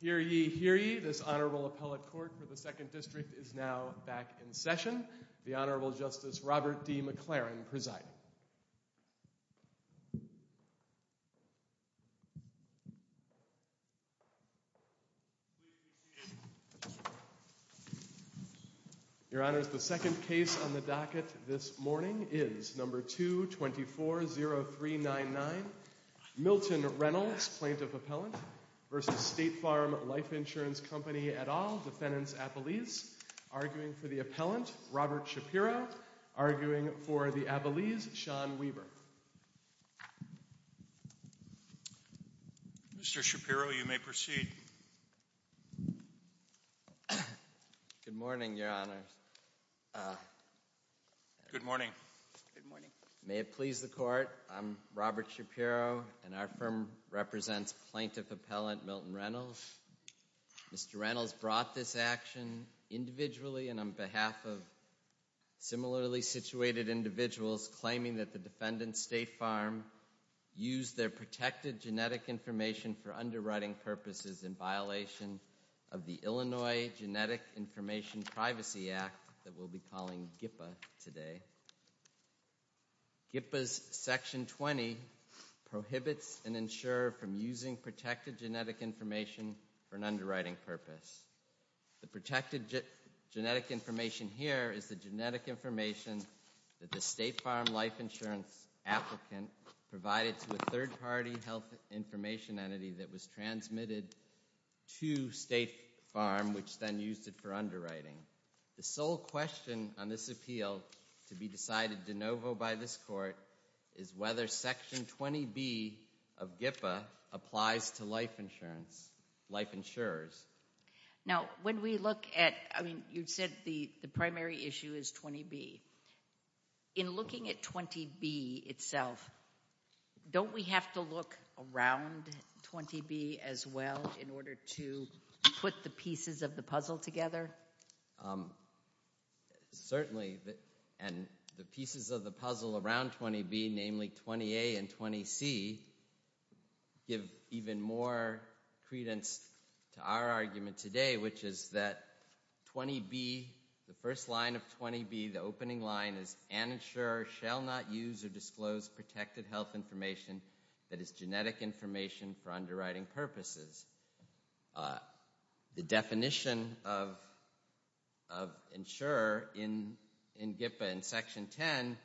Hear ye, hear ye. This Honorable Appellate Court for the Second District is now back in session. The Honorable Justice Robert D. McLaren presiding. Your Honors, the second case on the docket this morning is number 2240399, Milton Reynolds, Plaintiff Appellant v. State Farm Life Insurance Company et al., Defendants, Abilese. Arguing for the Appellant, Robert Shapiro. Arguing for the Abilese, Sean Weaver. Mr. Shapiro, you may proceed. Good morning, Your Honors. Good morning. Good morning. May it please the Court, I'm Robert Shapiro and our firm represents Plaintiff Appellant Milton Reynolds. Mr. Reynolds brought this action individually and on behalf of similarly situated individuals claiming that the defendants, State Farm, used their protected genetic information for underwriting purposes in violation of the Illinois Genetic Information Privacy Act that we'll be calling GIPA today. GIPA's Section 20 prohibits an insurer from using protected genetic information for an underwriting purpose. The protected genetic information here is the genetic information that the State Farm Life Insurance applicant provided to a third-party health information entity that was transmitted to State Farm, which then used it for underwriting. The sole question on this appeal to be decided de novo by this Court is whether Section 20B of GIPA applies to life insurance, life insurers. Now when we look at, I mean, you said the primary issue is 20B. In looking at 20B itself, don't we have to look around 20B as well in order to put the pieces of the puzzle together? Certainly, and the pieces of the puzzle around 20B, namely 20A and 20C, give even more credence to our argument today, which is that 20B, the first line of 20B, the opening line is, an insurer shall not use or disclose protected health information that is genetic information for underwriting purposes. The definition of insurer in GIPA in Section 10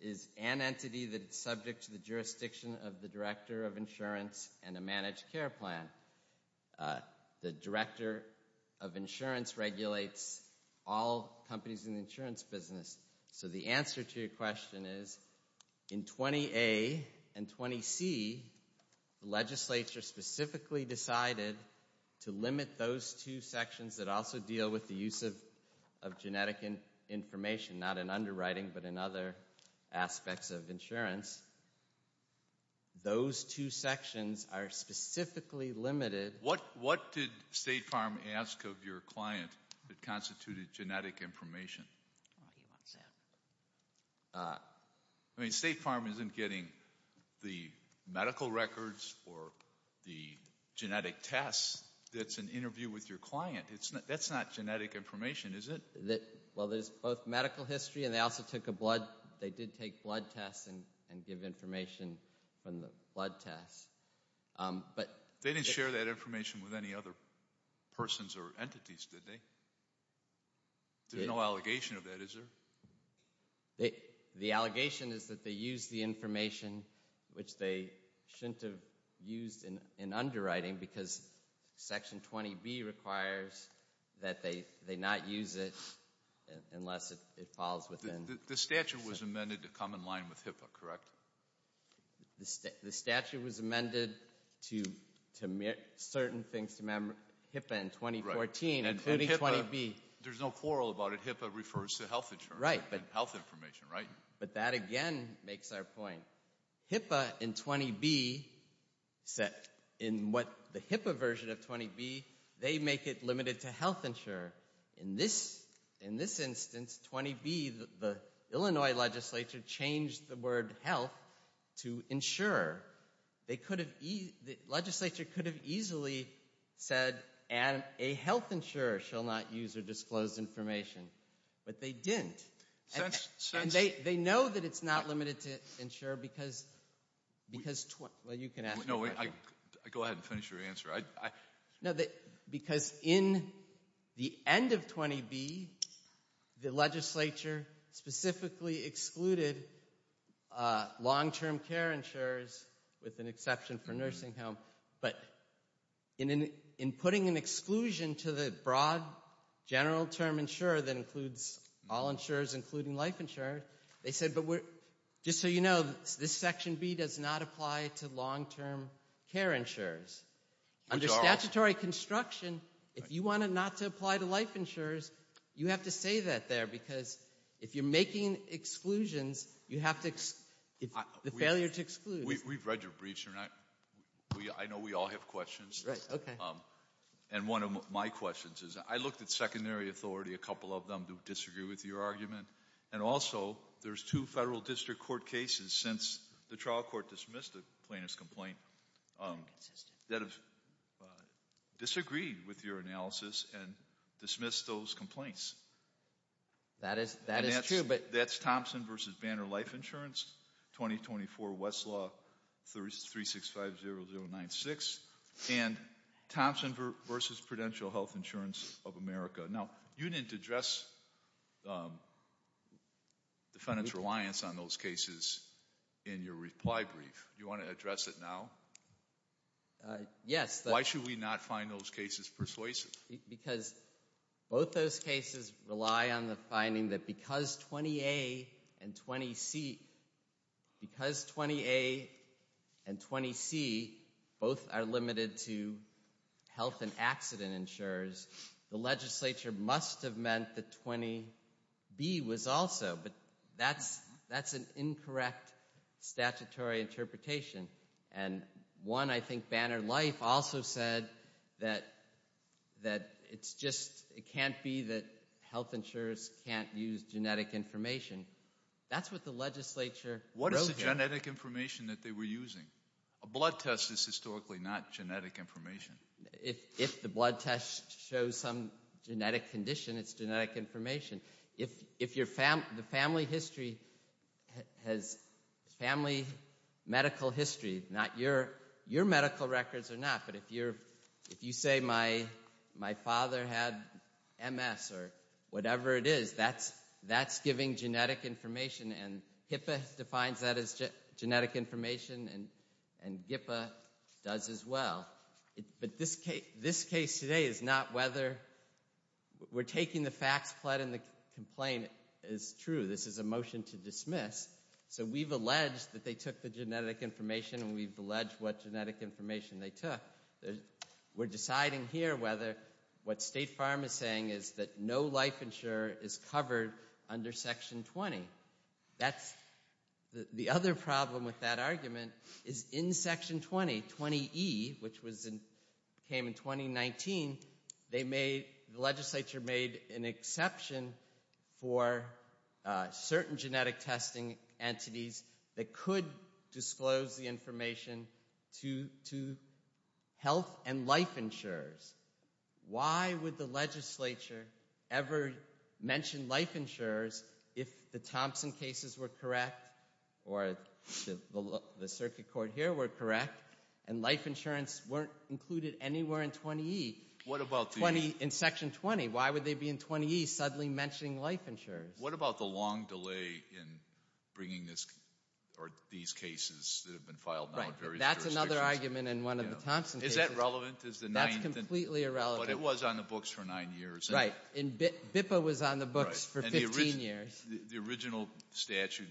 is an entity that is subject to the jurisdiction of the Director of Insurance and a managed care plan. The Director of Insurance regulates all companies in the insurance business. So the answer to your question is, in 20A and 20C, the legislature specifically decided to limit those two sections that also deal with the use of genetic information, not in underwriting, but in other aspects of insurance. Those two sections are specifically limited. What did State Farm ask of your client that constituted genetic information? State Farm isn't getting the medical records or the genetic tests that's an interview with your client. That's not genetic information, is it? Well, there's both medical history and they also took a blood. They did take blood tests and give information from the blood tests. They didn't share that information with any other persons or entities, did they? There's no allegation of that, is there? The allegation is that they used the information which they shouldn't have used in underwriting because Section 20B requires that they not use it unless it falls within. The statute was amended to come in line with HIPAA, correct? The statute was amended to certain things to HIPAA in 2014, including 20B. There's no quarrel about it. HIPAA refers to health insurance and health information, right? But that, again, makes our point. HIPAA and 20B, in the HIPAA version of 20B, they make it limited to health insurance. In this instance, 20B, the Illinois legislature changed the word health to insurer. The legislature could have easily said, and a health insurer shall not use or disclose information. But they didn't. And they know that it's not limited to insurer because 20— Well, you can ask the question. I'll go ahead and finish your answer. No, because in the end of 20B, the legislature specifically excluded long-term care insurers with an exception for nursing home. But in putting an exclusion to the broad general term insurer that includes all insurers, including life insurers, they said, but just so you know, this Section B does not apply to long-term care insurers. Under statutory construction, if you want it not to apply to life insurers, you have to say that there because if you're making exclusions, you have to—the failure to exclude. We've read your briefs, and I know we all have questions. Right, okay. And one of my questions is, I looked at secondary authority, a couple of them, to disagree with your argument. And also, there's two federal district court cases since the trial court dismissed a plaintiff's complaint that have disagreed with your analysis and dismissed those complaints. That is true, but— That's Thompson v. Banner Life Insurance, 2024 Westlaw 3650096, and Thompson v. Prudential Health Insurance of America. Now, you didn't address defendants' reliance on those cases in your reply brief. Do you want to address it now? Yes. Why should we not find those cases persuasive? Because both those cases rely on the finding that because 20A and 20C— the legislature must have meant that 20B was also, but that's an incorrect statutory interpretation. And one, I think, Banner Life also said that it's just— it can't be that health insurers can't use genetic information. That's what the legislature wrote there. What is the genetic information that they were using? A blood test is historically not genetic information. If the blood test shows some genetic condition, it's genetic information. If the family history has family medical history, not your medical records or not, but if you say my father had MS or whatever it is, that's giving genetic information, and HIPAA defines that as genetic information, and GIPAA does as well. But this case today is not whether—we're taking the facts, flooding the complaint, it's true. This is a motion to dismiss. So we've alleged that they took the genetic information, and we've alleged what genetic information they took. We're deciding here whether what State Farm is saying is that no life insurer is covered under Section 20. The other problem with that argument is in Section 20, 20E, which came in 2019, the legislature made an exception for certain genetic testing entities that could disclose the information to health and life insurers. Why would the legislature ever mention life insurers if the Thompson cases were correct or the circuit court here were correct and life insurance weren't included anywhere in 20E in Section 20? Why would they be in 20E suddenly mentioning life insurers? What about the long delay in bringing these cases that have been filed now in various jurisdictions? That's another argument in one of the Thompson cases. Is that relevant? That's completely irrelevant. But it was on the books for nine years. And BIPPA was on the books for 15 years. The original statute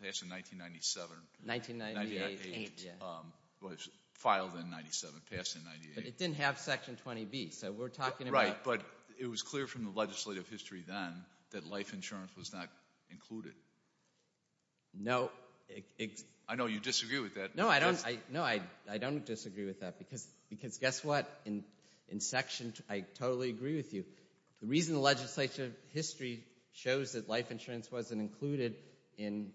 passed in 1997. 1998, yeah. It was filed in 1997, passed in 1998. But it didn't have Section 20B, so we're talking about— Right, but it was clear from the legislative history then that life insurance was not included. No. I know you disagree with that. No, I don't disagree with that because guess what? In Section—I totally agree with you. The reason the legislative history shows that life insurance wasn't included in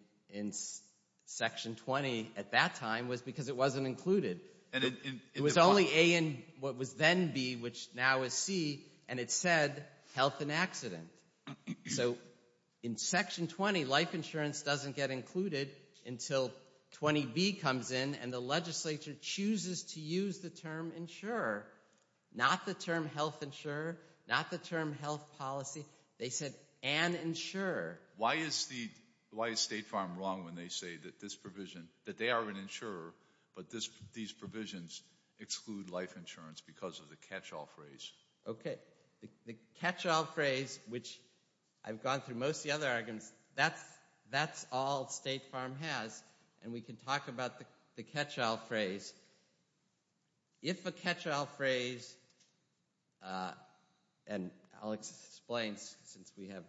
Section 20 at that time was because it wasn't included. It was only A and what was then B, which now is C, and it said health and accident. So in Section 20, life insurance doesn't get included until 20B comes in and the legislature chooses to use the term insurer, not the term health insurer, not the term health policy. They said an insurer. Why is State Farm wrong when they say that this provision—that they are an insurer, but these provisions exclude life insurance because of the catch-all phrase? Okay. The catch-all phrase, which I've gone through most of the other arguments, that's all State Farm has, and we can talk about the catch-all phrase. If a catch-all phrase—and I'll explain since we have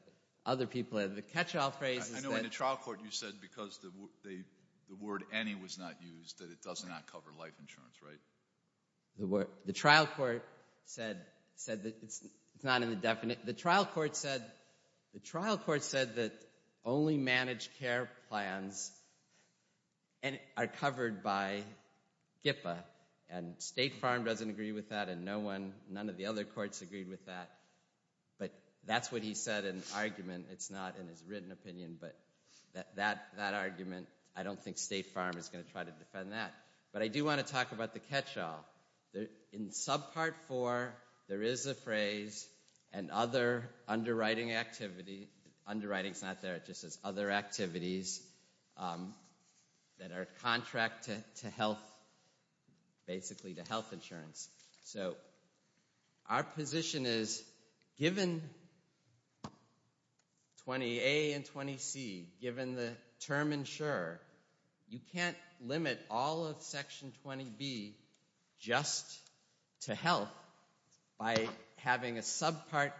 other people in. The catch-all phrase is that— I know in the trial court you said because the word any was not used that it does not cover life insurance, right? The trial court said that it's not in the definite. The trial court said that only managed care plans are covered by GPA, and State Farm doesn't agree with that and none of the other courts agreed with that, but that's what he said in the argument. It's not in his written opinion, but that argument, I don't think State Farm is going to try to defend that. But I do want to talk about the catch-all. In subpart four, there is a phrase and other underwriting activity— underwriting is not there, it just says other activities that are contracted to health, basically to health insurance. So our position is given 20A and 20C, given the term insurer, you can't limit all of Section 20B just to health by having a subpart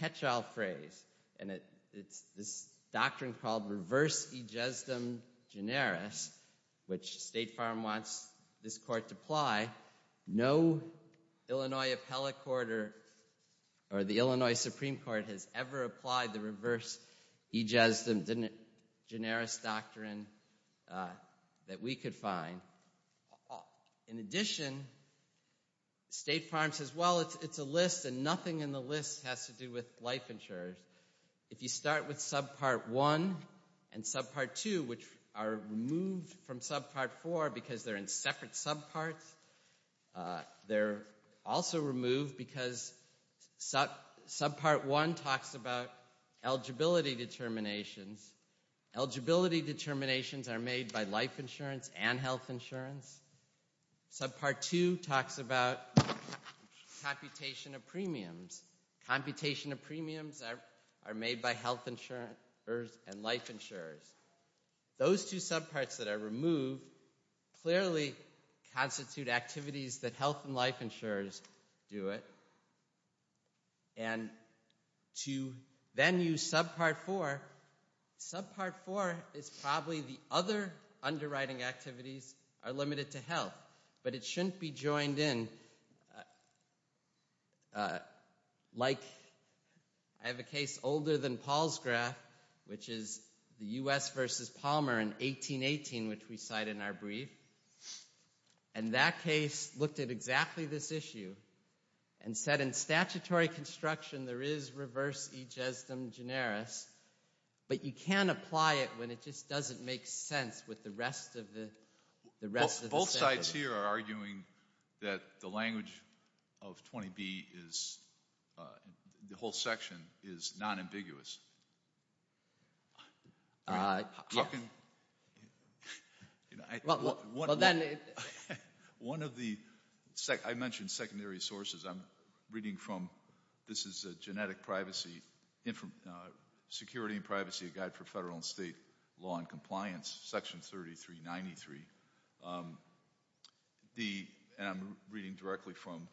catch-all phrase. And it's this doctrine called reverse egesdem generis, which State Farm wants this court to apply. No Illinois appellate court or the Illinois Supreme Court has ever applied the reverse egesdem generis doctrine that we could find. In addition, State Farm says, well, it's a list and nothing in the list has to do with life insurers. If you start with subpart one and subpart two, which are removed from subpart four because they're in separate subparts, they're also removed because subpart one talks about eligibility determinations. Eligibility determinations are made by life insurance and health insurance. Subpart two talks about computation of premiums. Computation of premiums are made by health insurers and life insurers. Those two subparts that are removed clearly constitute activities that health and life insurers do it. And to then use subpart four, subpart four is probably the other underwriting activities are limited to health, but it shouldn't be joined in. Like I have a case older than Paul's graph, which is the U.S. versus Palmer in 1818, which we cite in our brief. And that case looked at exactly this issue and said in statutory construction there is reverse egesdem generis, but you can't apply it when it just doesn't make sense with the rest of the sentence. Well, both sides here are arguing that the language of 20B is the whole section is nonambiguous. One of the, I mentioned secondary sources. I'm reading from, this is a genetic privacy, Security and Privacy, a Guide for Federal and State Law and Compliance, Section 3393. And I'm reading directly from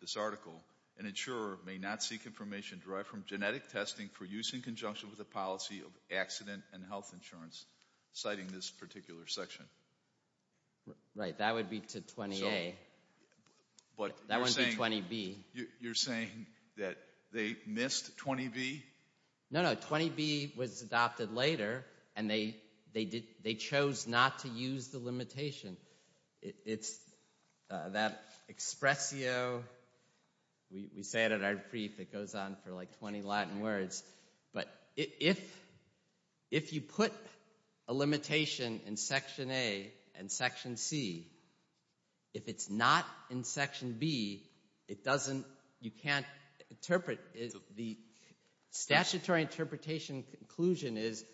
this article. An insurer may not seek information derived from genetic testing for use in conjunction with the policy of accident and health insurance, citing this particular section. Right, that would be to 20A. That wouldn't be 20B. You're saying that they missed 20B? No, no, 20B was adopted later, and they chose not to use the limitation. It's that expressio. We say it in our brief. It goes on for like 20 Latin words. But if you put a limitation in Section A and Section C, if it's not in Section B, it doesn't, you can't interpret it. The statutory interpretation conclusion is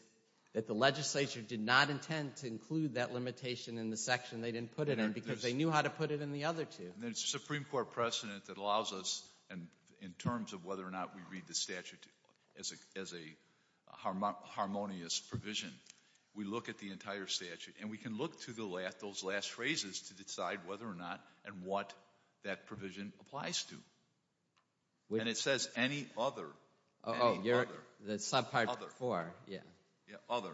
that the legislature did not intend to include that limitation in the section they didn't put it in because they knew how to put it in the other two. And there's a Supreme Court precedent that allows us, in terms of whether or not we read the statute as a harmonious provision, we look at the entire statute. And we can look to those last phrases to decide whether or not and what that provision applies to. And it says any other. Oh, the subpart four, yeah. Yeah, other.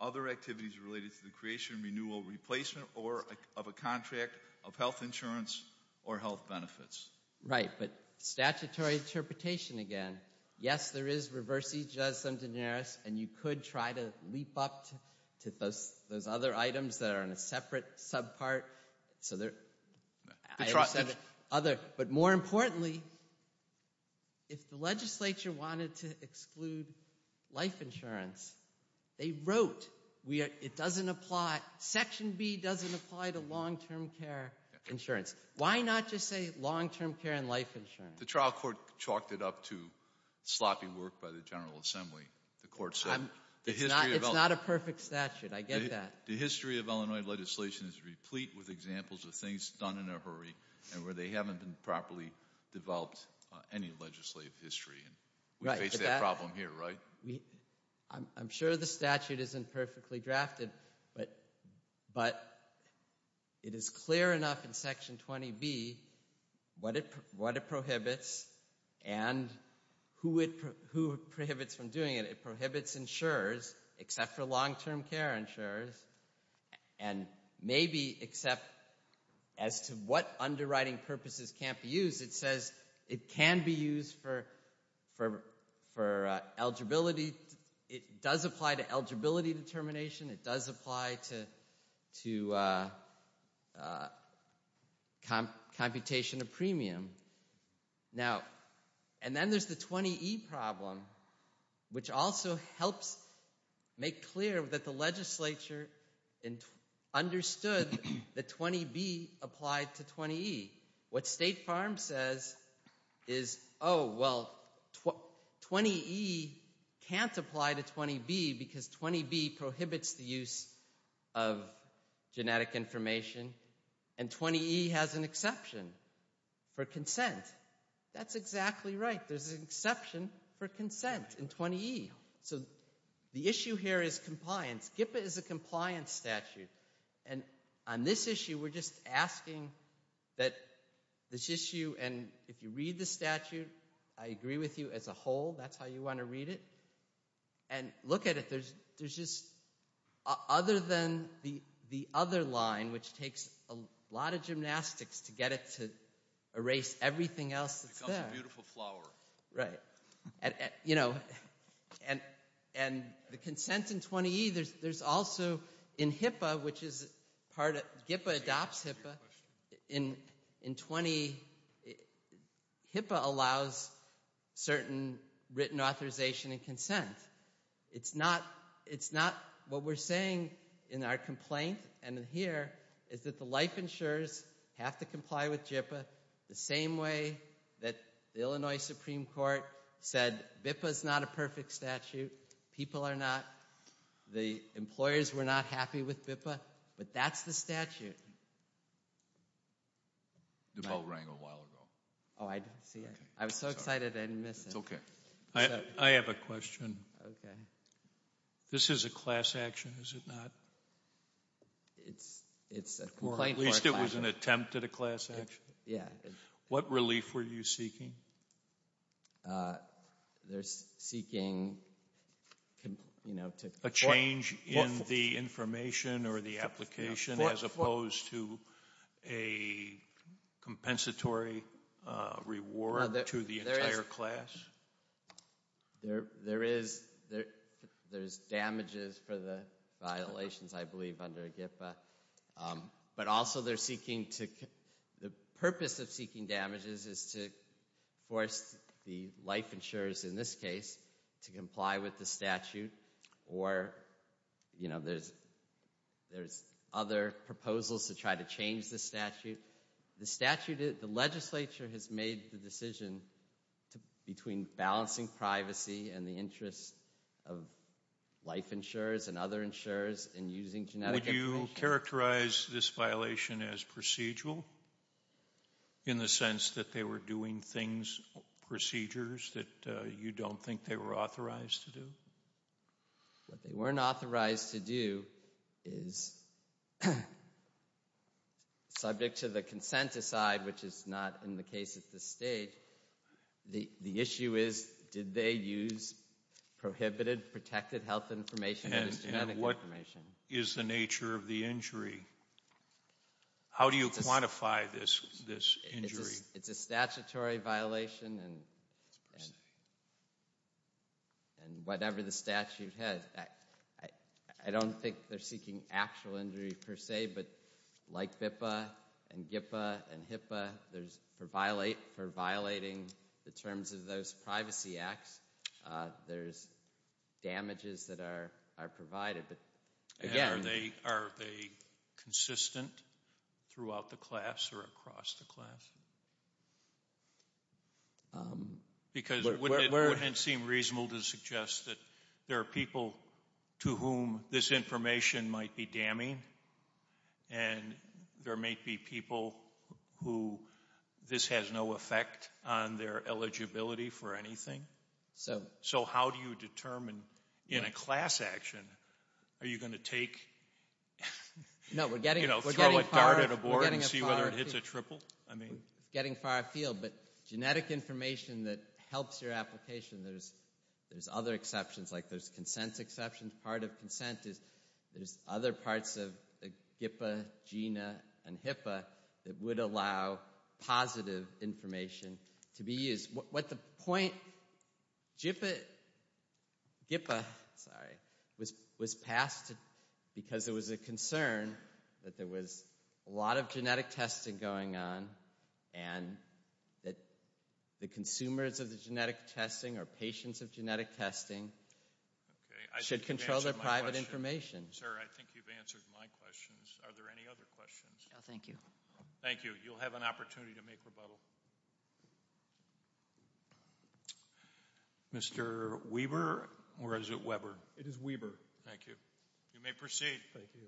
Other activities related to the creation, renewal, replacement, or of a contract of health insurance or health benefits. Right, but statutory interpretation again. Yes, there is reverse egeism denarius, and you could try to leap up to those other items that are in a separate subpart. But more importantly, if the legislature wanted to exclude life insurance, they wrote it doesn't apply, Section B doesn't apply to long-term care insurance. Why not just say long-term care and life insurance? The trial court chalked it up to sloppy work by the General Assembly, the court said. It's not a perfect statute, I get that. The history of Illinois legislation is replete with examples of things done in a hurry and where they haven't been properly developed any legislative history. We face that problem here, right? I'm sure the statute isn't perfectly drafted, but it is clear enough in Section 20B what it prohibits and who it prohibits from doing it. It prohibits insurers, except for long-term care insurers, and maybe except as to what underwriting purposes can't be used. It says it can be used for eligibility, it does apply to eligibility determination, it does apply to computation of premium. Now, and then there's the 20E problem, which also helps make clear that the legislature understood that 20B applied to 20E. What State Farm says is, oh, well, 20E can't apply to 20B because 20B prohibits the use of genetic information, and 20E has an exception for consent. That's exactly right, there's an exception for consent in 20E. So the issue here is compliance. GPPA is a compliance statute, and on this issue we're just asking that this issue, and if you read the statute, I agree with you as a whole, that's how you want to read it. And look at it, there's just, other than the other line, which takes a lot of gymnastics to get it to erase everything else that's there. It's also a beautiful flower. Right. You know, and the consent in 20E, there's also in HIPAA, which is part of, HIPAA adopts HIPAA, in 20E, HIPAA allows certain written authorization and consent. It's not, it's not, what we're saying in our complaint, and here, is that the life insurers have to comply with HIPAA the same way that the Illinois Supreme Court said, BIPPA's not a perfect statute, people are not, the employers were not happy with BIPPA, but that's the statute. The vote rang a while ago. Oh, I didn't see it. I was so excited I didn't miss it. It's okay. I have a question. This is a class action, is it not? It's a complaint for a class action. Or at least it was an attempt at a class action. Yeah. What relief were you seeking? There's seeking, you know, to- A change in the information or the application as opposed to a compensatory reward to the entire class? There is, there's damages for the violations, I believe, under HIPAA. But also, they're seeking to, the purpose of seeking damages is to force the life insurers, in this case, to comply with the statute. Or, you know, there's other proposals to try to change the statute. The statute, the legislature has made the decision between balancing privacy and the interest of life insurers and other insurers in using genetic information. Would you characterize this violation as procedural? In the sense that they were doing things, procedures, that you don't think they were authorized to do? What they weren't authorized to do is, subject to the consent aside, which is not in the case at this stage, the issue is, did they use prohibited, protected health information or genetic information? And what is the nature of the injury? How do you quantify this injury? It's a statutory violation and whatever the statute has. I don't think they're seeking actual injury per se, but like BIPA and GIPA and HIPAA, for violating the terms of those privacy acts, there's damages that are provided. Are they consistent throughout the class or across the class? Because it wouldn't seem reasonable to suggest that there are people to whom this information might be damning. And there might be people who this has no effect on their eligibility for anything. So how do you determine, in a class action, are you going to throw a dart at a board and see whether it hits a triple? Getting far afield, but genetic information that helps your application, there's other exceptions, like there's consent exceptions. Part of consent is there's other parts of GIPA, GINA, and HIPAA that would allow positive information to be used. What the point, GIPA, sorry, was passed because there was a concern that there was a lot of genetic testing going on. And that the consumers of the genetic testing or patients of genetic testing should control their private information. Sir, I think you've answered my questions. Are there any other questions? No, thank you. Thank you. You'll have an opportunity to make rebuttal. Mr. Weber or is it Weber? It is Weber. Thank you. You may proceed. Thank you.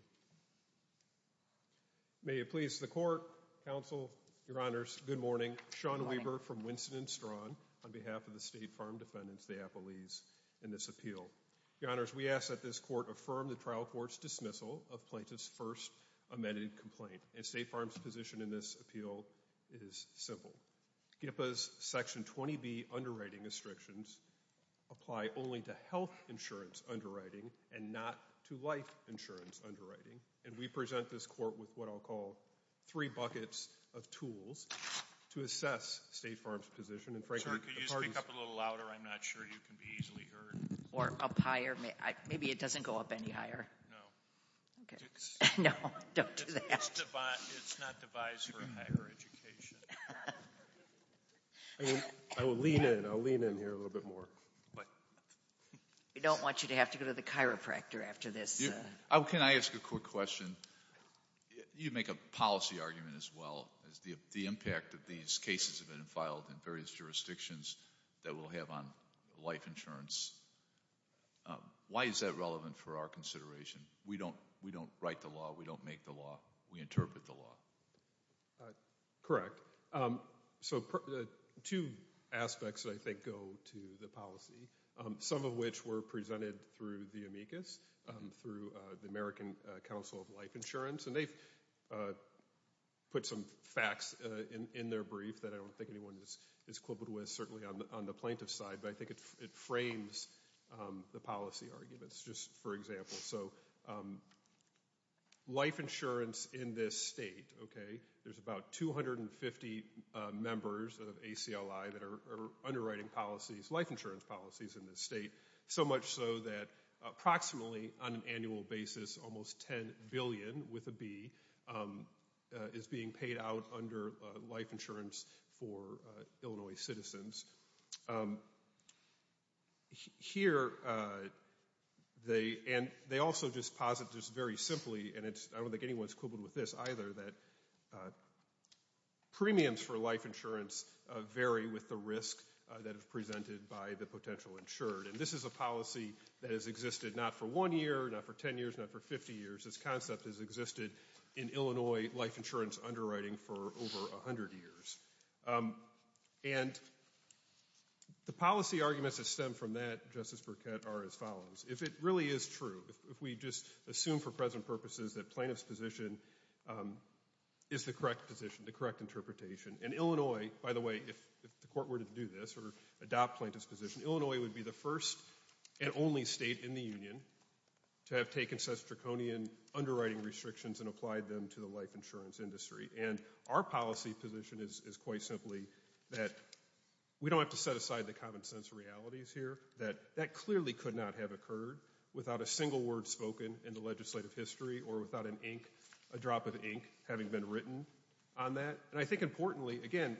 May it please the court, counsel, your honors, good morning. Good morning. Sean Weber from Winston and Strachan on behalf of the State Farm Defendants, the Appleys, in this appeal. Your honors, we ask that this court affirm the trial court's dismissal of plaintiff's first amended complaint. And State Farm's position in this appeal is simple. GIPA's Section 20B underwriting restrictions apply only to health insurance underwriting and not to life insurance underwriting. And we present this court with what I'll call three buckets of tools to assess State Farm's position. And frankly, the parties- Sir, could you speak up a little louder? I'm not sure you can be easily heard. Or up higher? Maybe it doesn't go up any higher. No. Okay. No, don't do that. It's not devised for higher education. I will lean in. I'll lean in here a little bit more. We don't want you to have to go to the chiropractor after this. Can I ask a quick question? You make a policy argument as well as the impact that these cases have been filed in various jurisdictions that will have on life insurance. Why is that relevant for our consideration? We don't write the law. We don't make the law. We interpret the law. Correct. So two aspects, I think, go to the policy, some of which were presented through the amicus, through the American Council of Life Insurance. And they've put some facts in their brief that I don't think anyone is quibbled with, certainly on the plaintiff's side. But I think it frames the policy arguments, just for example. So life insurance in this state, okay, there's about 250 members of ACLI that are underwriting policies, life insurance policies in this state, so much so that approximately on an annual basis almost $10 billion, with a B, is being paid out under life insurance for Illinois citizens. Here they also just posit just very simply, and I don't think anyone is quibbled with this either, that premiums for life insurance vary with the risk that is presented by the potential insured. And this is a policy that has existed not for one year, not for 10 years, not for 50 years. This concept has existed in Illinois life insurance underwriting for over 100 years. And the policy arguments that stem from that, Justice Burkett, are as follows. If it really is true, if we just assume for present purposes that plaintiff's position is the correct position, the correct interpretation, and Illinois, by the way, if the court were to do this or adopt plaintiff's position, Illinois would be the first and only state in the union to have taken such draconian underwriting restrictions and applied them to the life insurance industry. And our policy position is quite simply that we don't have to set aside the common sense realities here, that that clearly could not have occurred without a single word spoken in the legislative history or without an ink, a drop of ink, having been written on that. And I think importantly, again,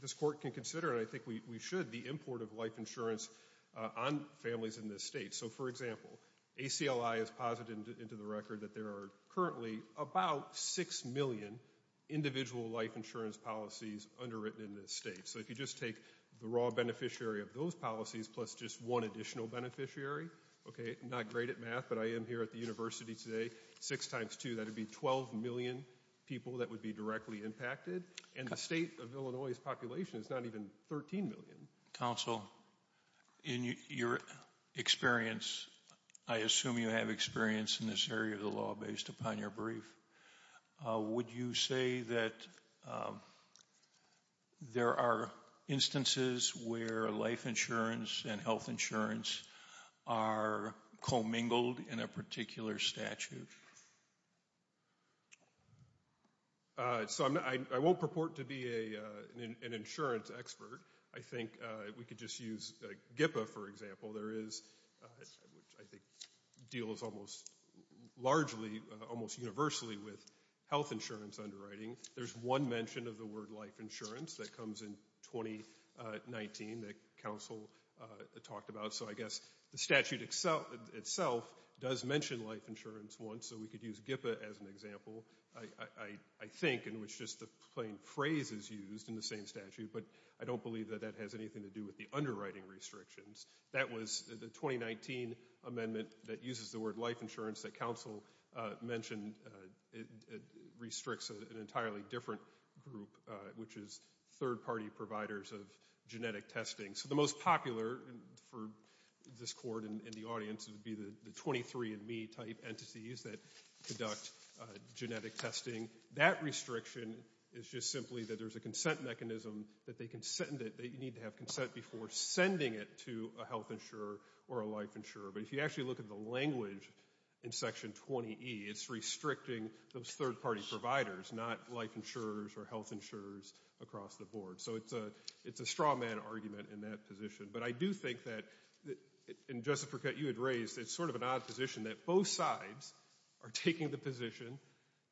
this court can consider, and I think we should, the import of life insurance on families in this state. So for example, ACLI has posited into the record that there are currently about 6 million individual life insurance policies underwritten in this state. So if you just take the raw beneficiary of those policies plus just one additional beneficiary, okay, not great at math, but I am here at the university today, 6 times 2, that would be 12 million people that would be directly impacted. And the state of Illinois' population is not even 13 million. Counsel, in your experience, I assume you have experience in this area of the law based upon your brief. Would you say that there are instances where life insurance and health insurance are commingled in a particular statute? So I won't purport to be an insurance expert. I think we could just use GIPA for example. There is, which I think deals almost largely, almost universally with health insurance underwriting. There's one mention of the word life insurance that comes in 2019 that counsel talked about. So I guess the statute itself does mention life insurance once. So we could use GIPA as an example, I think, in which just the plain phrase is used in the same statute. But I don't believe that that has anything to do with the underwriting restrictions. That was the 2019 amendment that uses the word life insurance that counsel mentioned. It restricts an entirely different group, which is third party providers of genetic testing. So the most popular for this court and the audience would be the 23andMe type entities that conduct genetic testing. That restriction is just simply that there's a consent mechanism that they can send it, that you need to have consent before sending it to a health insurer or a life insurer. But if you actually look at the language in Section 20E, it's restricting those third party providers, not life insurers or health insurers across the board. So it's a straw man argument in that position. But I do think that, and Jessica, you had raised, it's sort of an odd position that both sides are taking the position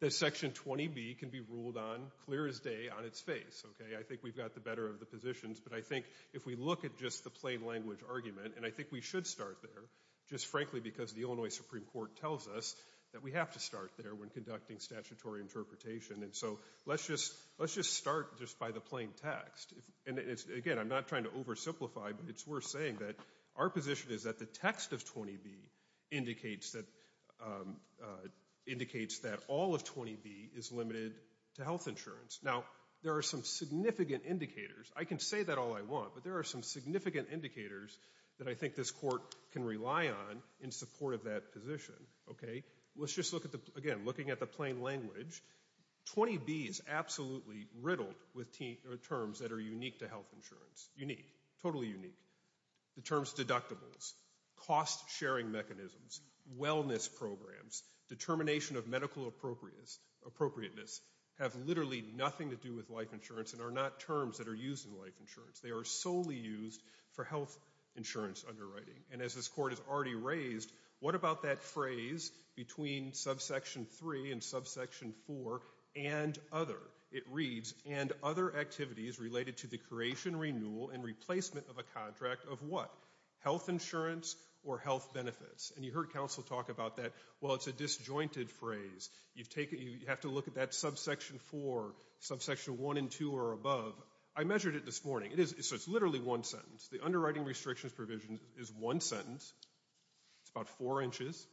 that Section 20B can be ruled on clear as day on its face. I think we've got the better of the positions. But I think if we look at just the plain language argument, and I think we should start there, just frankly because the Illinois Supreme Court tells us that we have to start there when conducting statutory interpretation. And so let's just start just by the plain text. Again, I'm not trying to oversimplify, but it's worth saying that our position is that the text of 20B indicates that all of 20B is limited to health insurance. Now, there are some significant indicators. I can say that all I want, but there are some significant indicators that I think this court can rely on in support of that position. Let's just look at the, again, looking at the plain language. 20B is absolutely riddled with terms that are unique to health insurance. Unique, totally unique. The terms deductibles, cost-sharing mechanisms, wellness programs, determination of medical appropriateness have literally nothing to do with life insurance and are not terms that are used in life insurance. They are solely used for health insurance underwriting. And as this court has already raised, what about that phrase between subsection 3 and subsection 4 and other? It reads, and other activities related to the creation, renewal, and replacement of a contract of what? Health insurance or health benefits? And you heard counsel talk about that. Well, it's a disjointed phrase. You have to look at that subsection 4, subsection 1 and 2 or above. I measured it this morning. So it's literally one sentence. The underwriting restrictions provision is one sentence. It's about four inches,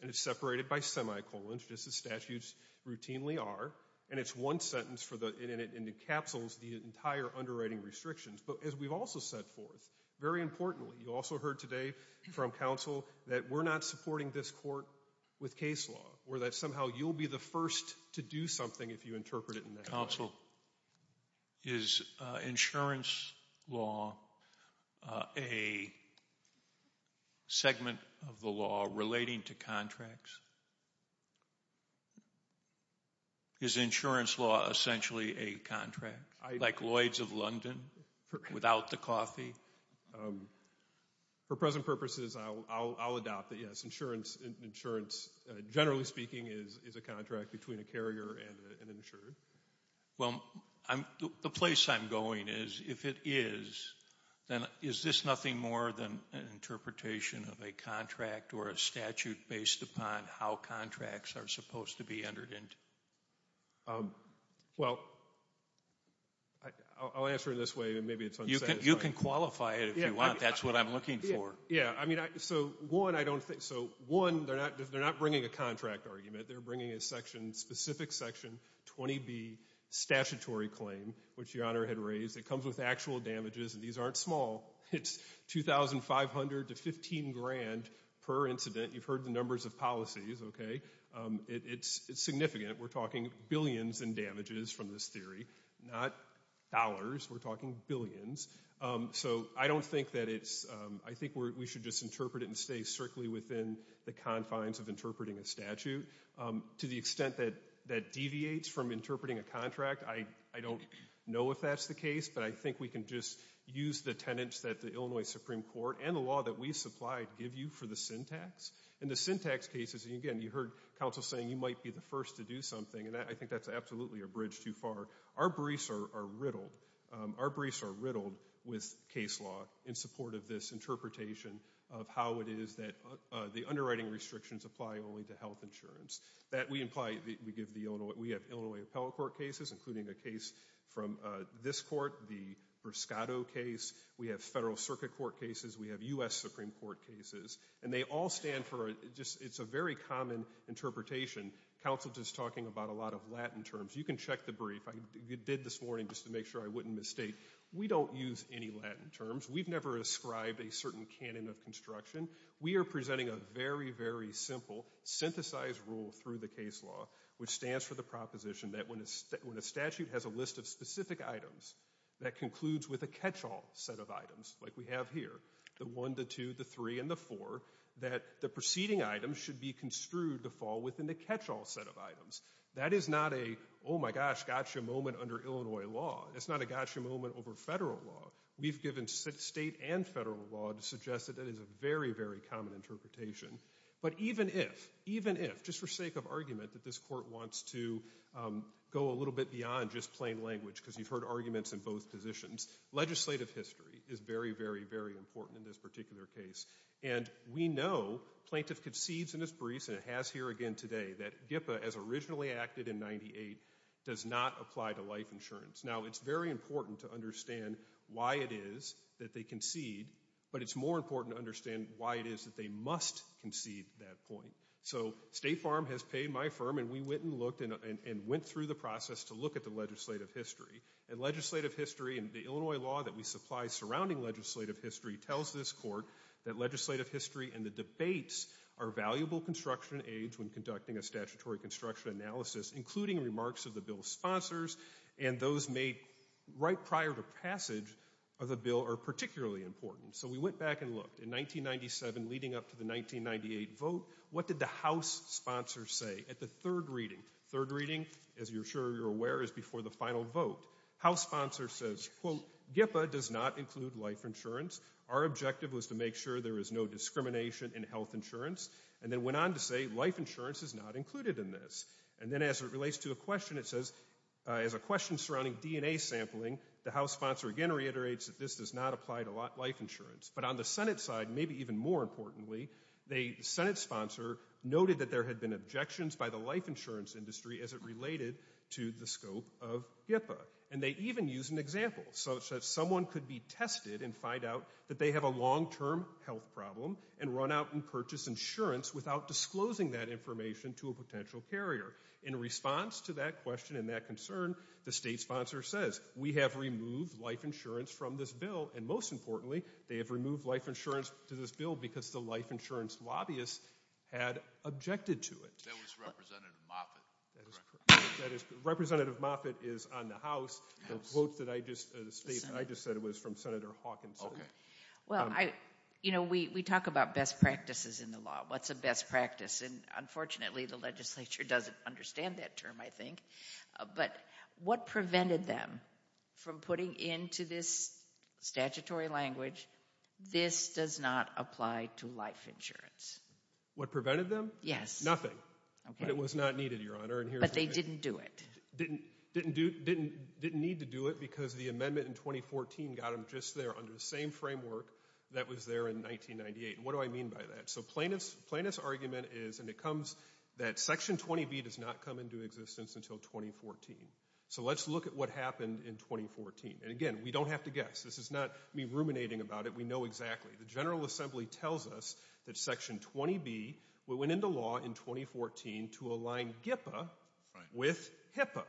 and it's separated by semicolons, just as statutes routinely are. And it's one sentence, and it encapsules the entire underwriting restrictions. But as we've also set forth, very importantly, you also heard today from counsel that we're not supporting this court with case law or that somehow you'll be the first to do something if you interpret it in that way. Counsel, is insurance law a segment of the law relating to contracts? Is insurance law essentially a contract, like Lloyd's of London without the coffee? For present purposes, I'll adopt it, yes. Insurance, generally speaking, is a contract between a carrier and an insurer. Well, the place I'm going is, if it is, then is this nothing more than an interpretation of a contract or a statute based upon how contracts are supposed to be entered into? Well, I'll answer it this way, and maybe it's unsatisfying. You can qualify it if you want. That's what I'm looking for. Yeah, I mean, so one, I don't think so. One, they're not bringing a contract argument. They're bringing a specific Section 20B statutory claim, which Your Honor had raised. It comes with actual damages, and these aren't small. It's $2,500 to $15,000 per incident. You've heard the numbers of policies, okay? It's significant. We're talking billions in damages from this theory, not dollars. We're talking billions. So I don't think that it's, I think we should just interpret it and stay strictly within the confines of interpreting a statute. To the extent that that deviates from interpreting a contract, I don't know if that's the case, but I think we can just use the tenets that the Illinois Supreme Court and the law that we supplied give you for the syntax. In the syntax cases, again, you heard counsel saying you might be the first to do something, and I think that's absolutely a bridge too far. Our briefs are riddled. Our briefs are riddled with case law in support of this interpretation of how it is that the underwriting restrictions apply only to health insurance. That we imply, we give the Illinois, we have Illinois Appellate Court cases, including a case from this court, the Briscato case. We have Federal Circuit Court cases. We have U.S. Supreme Court cases, and they all stand for just, it's a very common interpretation. Counsel just talking about a lot of Latin terms. You can check the brief. I did this morning just to make sure I wouldn't mistake. We don't use any Latin terms. We've never ascribed a certain canon of construction. We are presenting a very, very simple, synthesized rule through the case law, which stands for the proposition that when a statute has a list of specific items that concludes with a catch-all set of items, like we have here, the one, the two, the three, and the four, that the preceding item should be construed to fall within the catch-all set of items. That is not a, oh my gosh, gotcha moment under Illinois law. That's not a gotcha moment over Federal law. We've given State and Federal law to suggest that that is a very, very common interpretation. But even if, even if, just for sake of argument, that this court wants to go a little bit beyond just plain language, because you've heard arguments in both positions, legislative history is very, very, very important in this particular case. And we know, plaintiff concedes in his briefs, and it has here again today, that GIPA, as originally acted in 98, does not apply to life insurance. Now, it's very important to understand why it is that they concede, but it's more important to understand why it is that they must concede that point. So State Farm has paid my firm, and we went and looked and went through the process to look at the legislative history. And legislative history and the Illinois law that we supply surrounding legislative history tells this court that legislative history and the debates are valuable construction aids when conducting a statutory construction analysis, including remarks of the bill's sponsors, and those made right prior to passage of the bill are particularly important. So we went back and looked. In 1997, leading up to the 1998 vote, what did the House sponsors say? At the third reading, third reading, as you're sure you're aware, is before the final vote. House sponsor says, quote, GIPA does not include life insurance. Our objective was to make sure there is no discrimination in health insurance. And then went on to say life insurance is not included in this. And then as it relates to a question, it says, as a question surrounding DNA sampling, the House sponsor again reiterates that this does not apply to life insurance. But on the Senate side, maybe even more importantly, the Senate sponsor noted that there had been objections by the life insurance industry as it related to the scope of GIPA. And they even used an example, such that someone could be tested and find out that they have a long-term health problem and run out and purchase insurance without disclosing that information to a potential carrier. In response to that question and that concern, the state sponsor says, we have removed life insurance from this bill. And most importantly, they have removed life insurance from this bill because the life insurance lobbyists had objected to it. That was Representative Moffitt. Representative Moffitt is on the House. The quote that I just stated, I just said it was from Senator Hawkinson. Well, you know, we talk about best practices in the law. What's a best practice? And unfortunately, the legislature doesn't understand that term, I think. But what prevented them from putting into this statutory language, this does not apply to life insurance. What prevented them? Yes. Nothing. But it was not needed, Your Honor. But they didn't do it. They didn't need to do it because the amendment in 2014 got them just there under the same framework that was there in 1998. And what do I mean by that? So Plaintiff's argument is, and it comes that Section 20B does not come into existence until 2014. So let's look at what happened in 2014. And again, we don't have to guess. This is not me ruminating about it. We know exactly. The General Assembly tells us that Section 20B went into law in 2014 to align GIPA with HIPAA,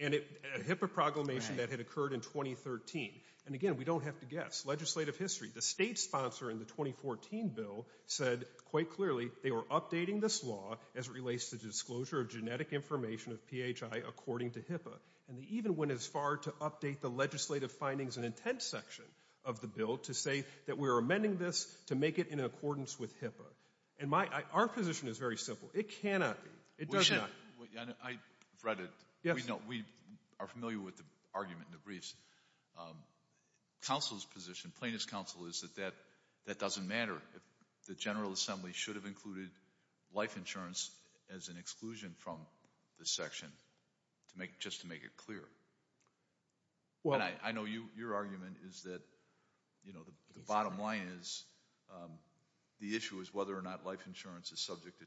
a HIPAA proclamation that had occurred in 2013. And again, we don't have to guess. Legislative history. The state sponsor in the 2014 bill said quite clearly they were updating this law as it relates to disclosure of genetic information of PHI according to HIPAA. And they even went as far to update the legislative findings and intent section of the bill to say that we're amending this to make it in accordance with HIPAA. And our position is very simple. It cannot be. It does not. I've read it. We are familiar with the argument in the briefs. Counsel's position, Plaintiff's counsel, is that that doesn't matter. The General Assembly should have included life insurance as an exclusion from this section just to make it clear. I know your argument is that the bottom line is the issue is whether or not life insurance is subject to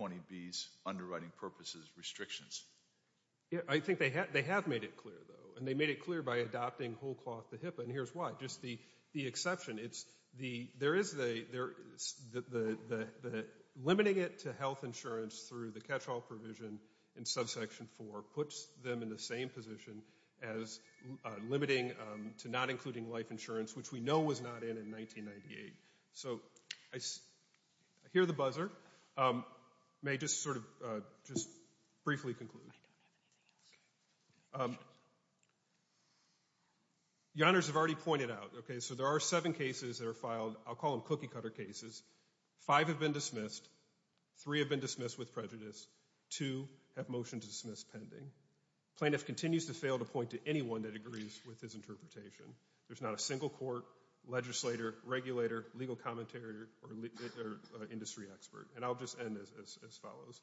20B's underwriting purposes restrictions. I think they have made it clear, though. And they made it clear by adopting whole cloth to HIPAA. And here's why. Just the exception. There is the limiting it to health insurance through the catch-all provision in subsection 4 puts them in the same position as limiting to not including life insurance, which we know was not in in 1998. So I hear the buzzer. May I just sort of just briefly conclude? I don't have anything else. Your Honors have already pointed out. Okay, so there are seven cases that are filed. I'll call them cookie-cutter cases. Five have been dismissed. Three have been dismissed with prejudice. Two have motion to dismiss pending. Plaintiff continues to fail to point to anyone that agrees with his interpretation. There's not a single court, legislator, regulator, legal commentator, or industry expert. And I'll just end as follows.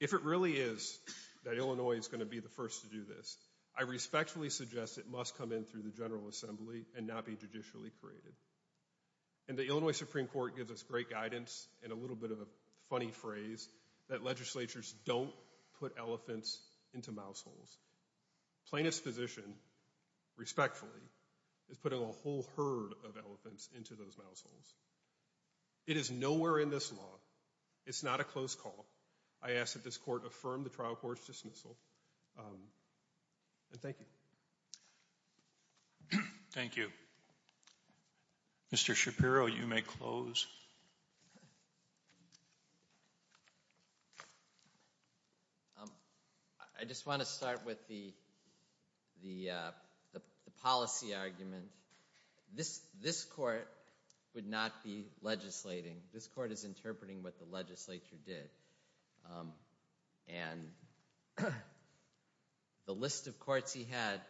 If it really is that Illinois is going to be the first to do this, I respectfully suggest it must come in through the General Assembly and not be judicially created. And the Illinois Supreme Court gives us great guidance and a little bit of a funny phrase that legislatures don't put elephants into mouse holes. Plaintiff's position, respectfully, is putting a whole herd of elephants into those mouse holes. It is nowhere in this law. It's not a close call. I ask that this court affirm the trial court's dismissal. And thank you. Thank you. Mr. Shapiro, you may close. I just want to start with the policy argument. This court would not be legislating. This court is interpreting what the legislature did. And the list of courts he had,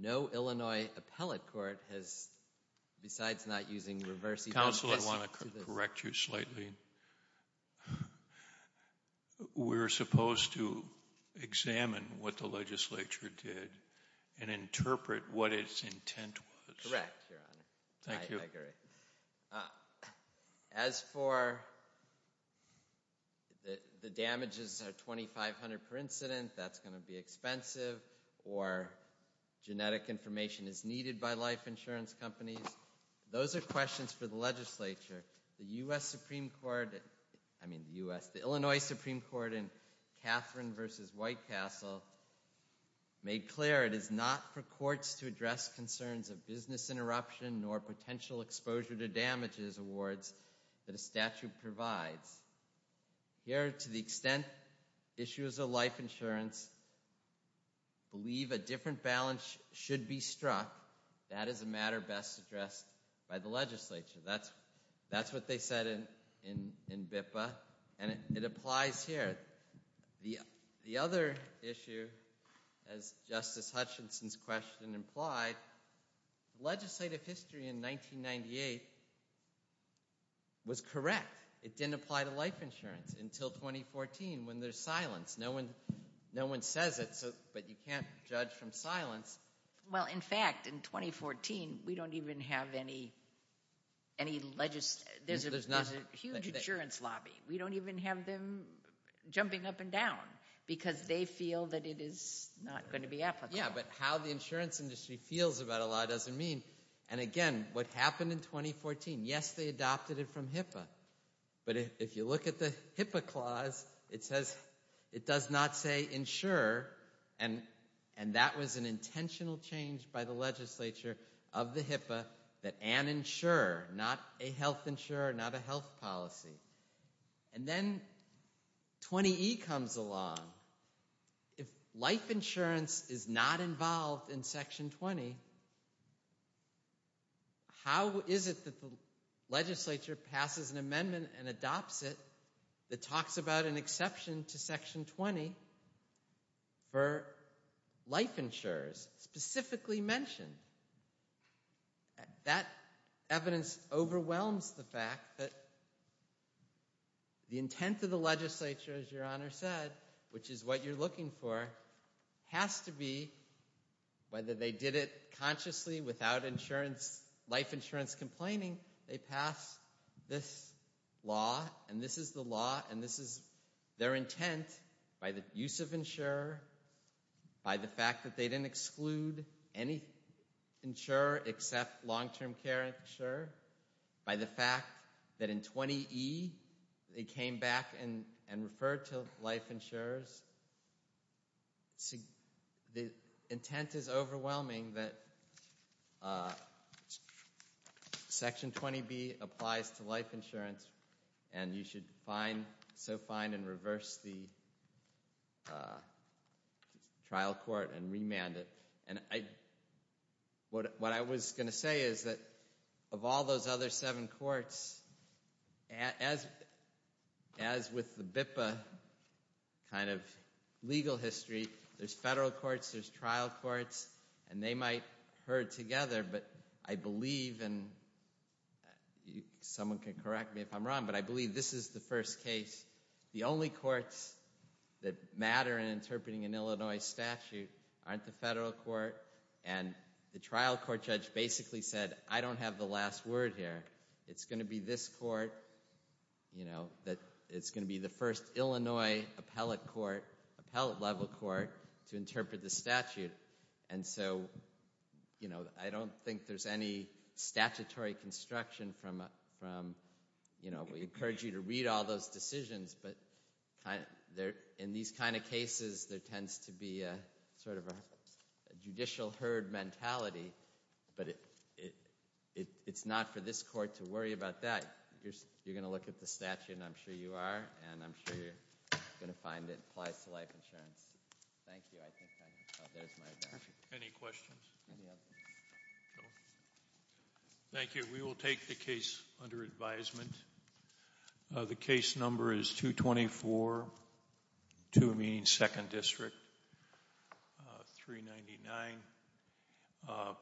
no Illinois appellate court has, besides not using reverse, Counsel, I want to correct you slightly. We're supposed to examine what the legislature did and interpret what its intent was. Correct, Your Honor. Thank you. I agree. As for the damages are $2,500 per incident, that's going to be expensive. Or genetic information is needed by life insurance companies. Those are questions for the legislature. The U.S. Supreme Court, I mean the U.S. The Illinois Supreme Court in Catherine v. White Castle made clear it is not for courts to address concerns of business interruption or potential exposure to damages awards that a statute provides. Here, to the extent issues of life insurance believe a different balance should be struck, that is a matter best addressed by the legislature. That's what they said in BIPA. And it applies here. The other issue, as Justice Hutchinson's question implied, legislative history in 1998 was correct. It didn't apply to life insurance until 2014 when there's silence. No one says it, but you can't judge from silence. Well, in fact, in 2014, we don't even have any legislation. There's a huge insurance lobby. We don't even have them jumping up and down because they feel that it is not going to be applicable. Yeah, but how the insurance industry feels about a law doesn't mean. And, again, what happened in 2014, yes, they adopted it from HIPAA. But if you look at the HIPAA clause, it says it does not say insure, and that was an intentional change by the legislature of the HIPAA that an insure, not a health insure, not a health policy. And then 20E comes along. If life insurance is not involved in Section 20, how is it that the legislature passes an amendment and adopts it that talks about an exception to Section 20 for life insurers specifically mentioned? That evidence overwhelms the fact that the intent of the legislature, as Your Honor said, which is what you're looking for, has to be whether they did it consciously without life insurance complaining, they pass this law, and this is the law, and this is their intent by the use of insure, by the fact that they didn't exclude any insure except long-term care insure, by the fact that in 20E they came back and referred to life insurers. The intent is overwhelming that Section 20B applies to life insurance, and you should fine, so fine, and reverse the trial court and remand it. And what I was going to say is that of all those other seven courts, as with the BIPA kind of legal history, there's federal courts, there's trial courts, and they might herd together, but I believe, and someone can correct me if I'm wrong, but I believe this is the first case. The only courts that matter in interpreting an Illinois statute aren't the federal court, and the trial court judge basically said, I don't have the last word here. It's going to be this court, you know, that it's going to be the first Illinois appellate court, appellate level court, to interpret the statute. And so, you know, I don't think there's any statutory construction from, you know, we encourage you to read all those decisions, but in these kind of cases, there tends to be sort of a judicial herd mentality, but it's not for this court to worry about that. You're going to look at the statute, and I'm sure you are, and I'm sure you're going to find it applies to life insurance. Thank you. Any questions? Thank you. We will take the case under advisement. The case number is 224, 2 meaning second district, 399.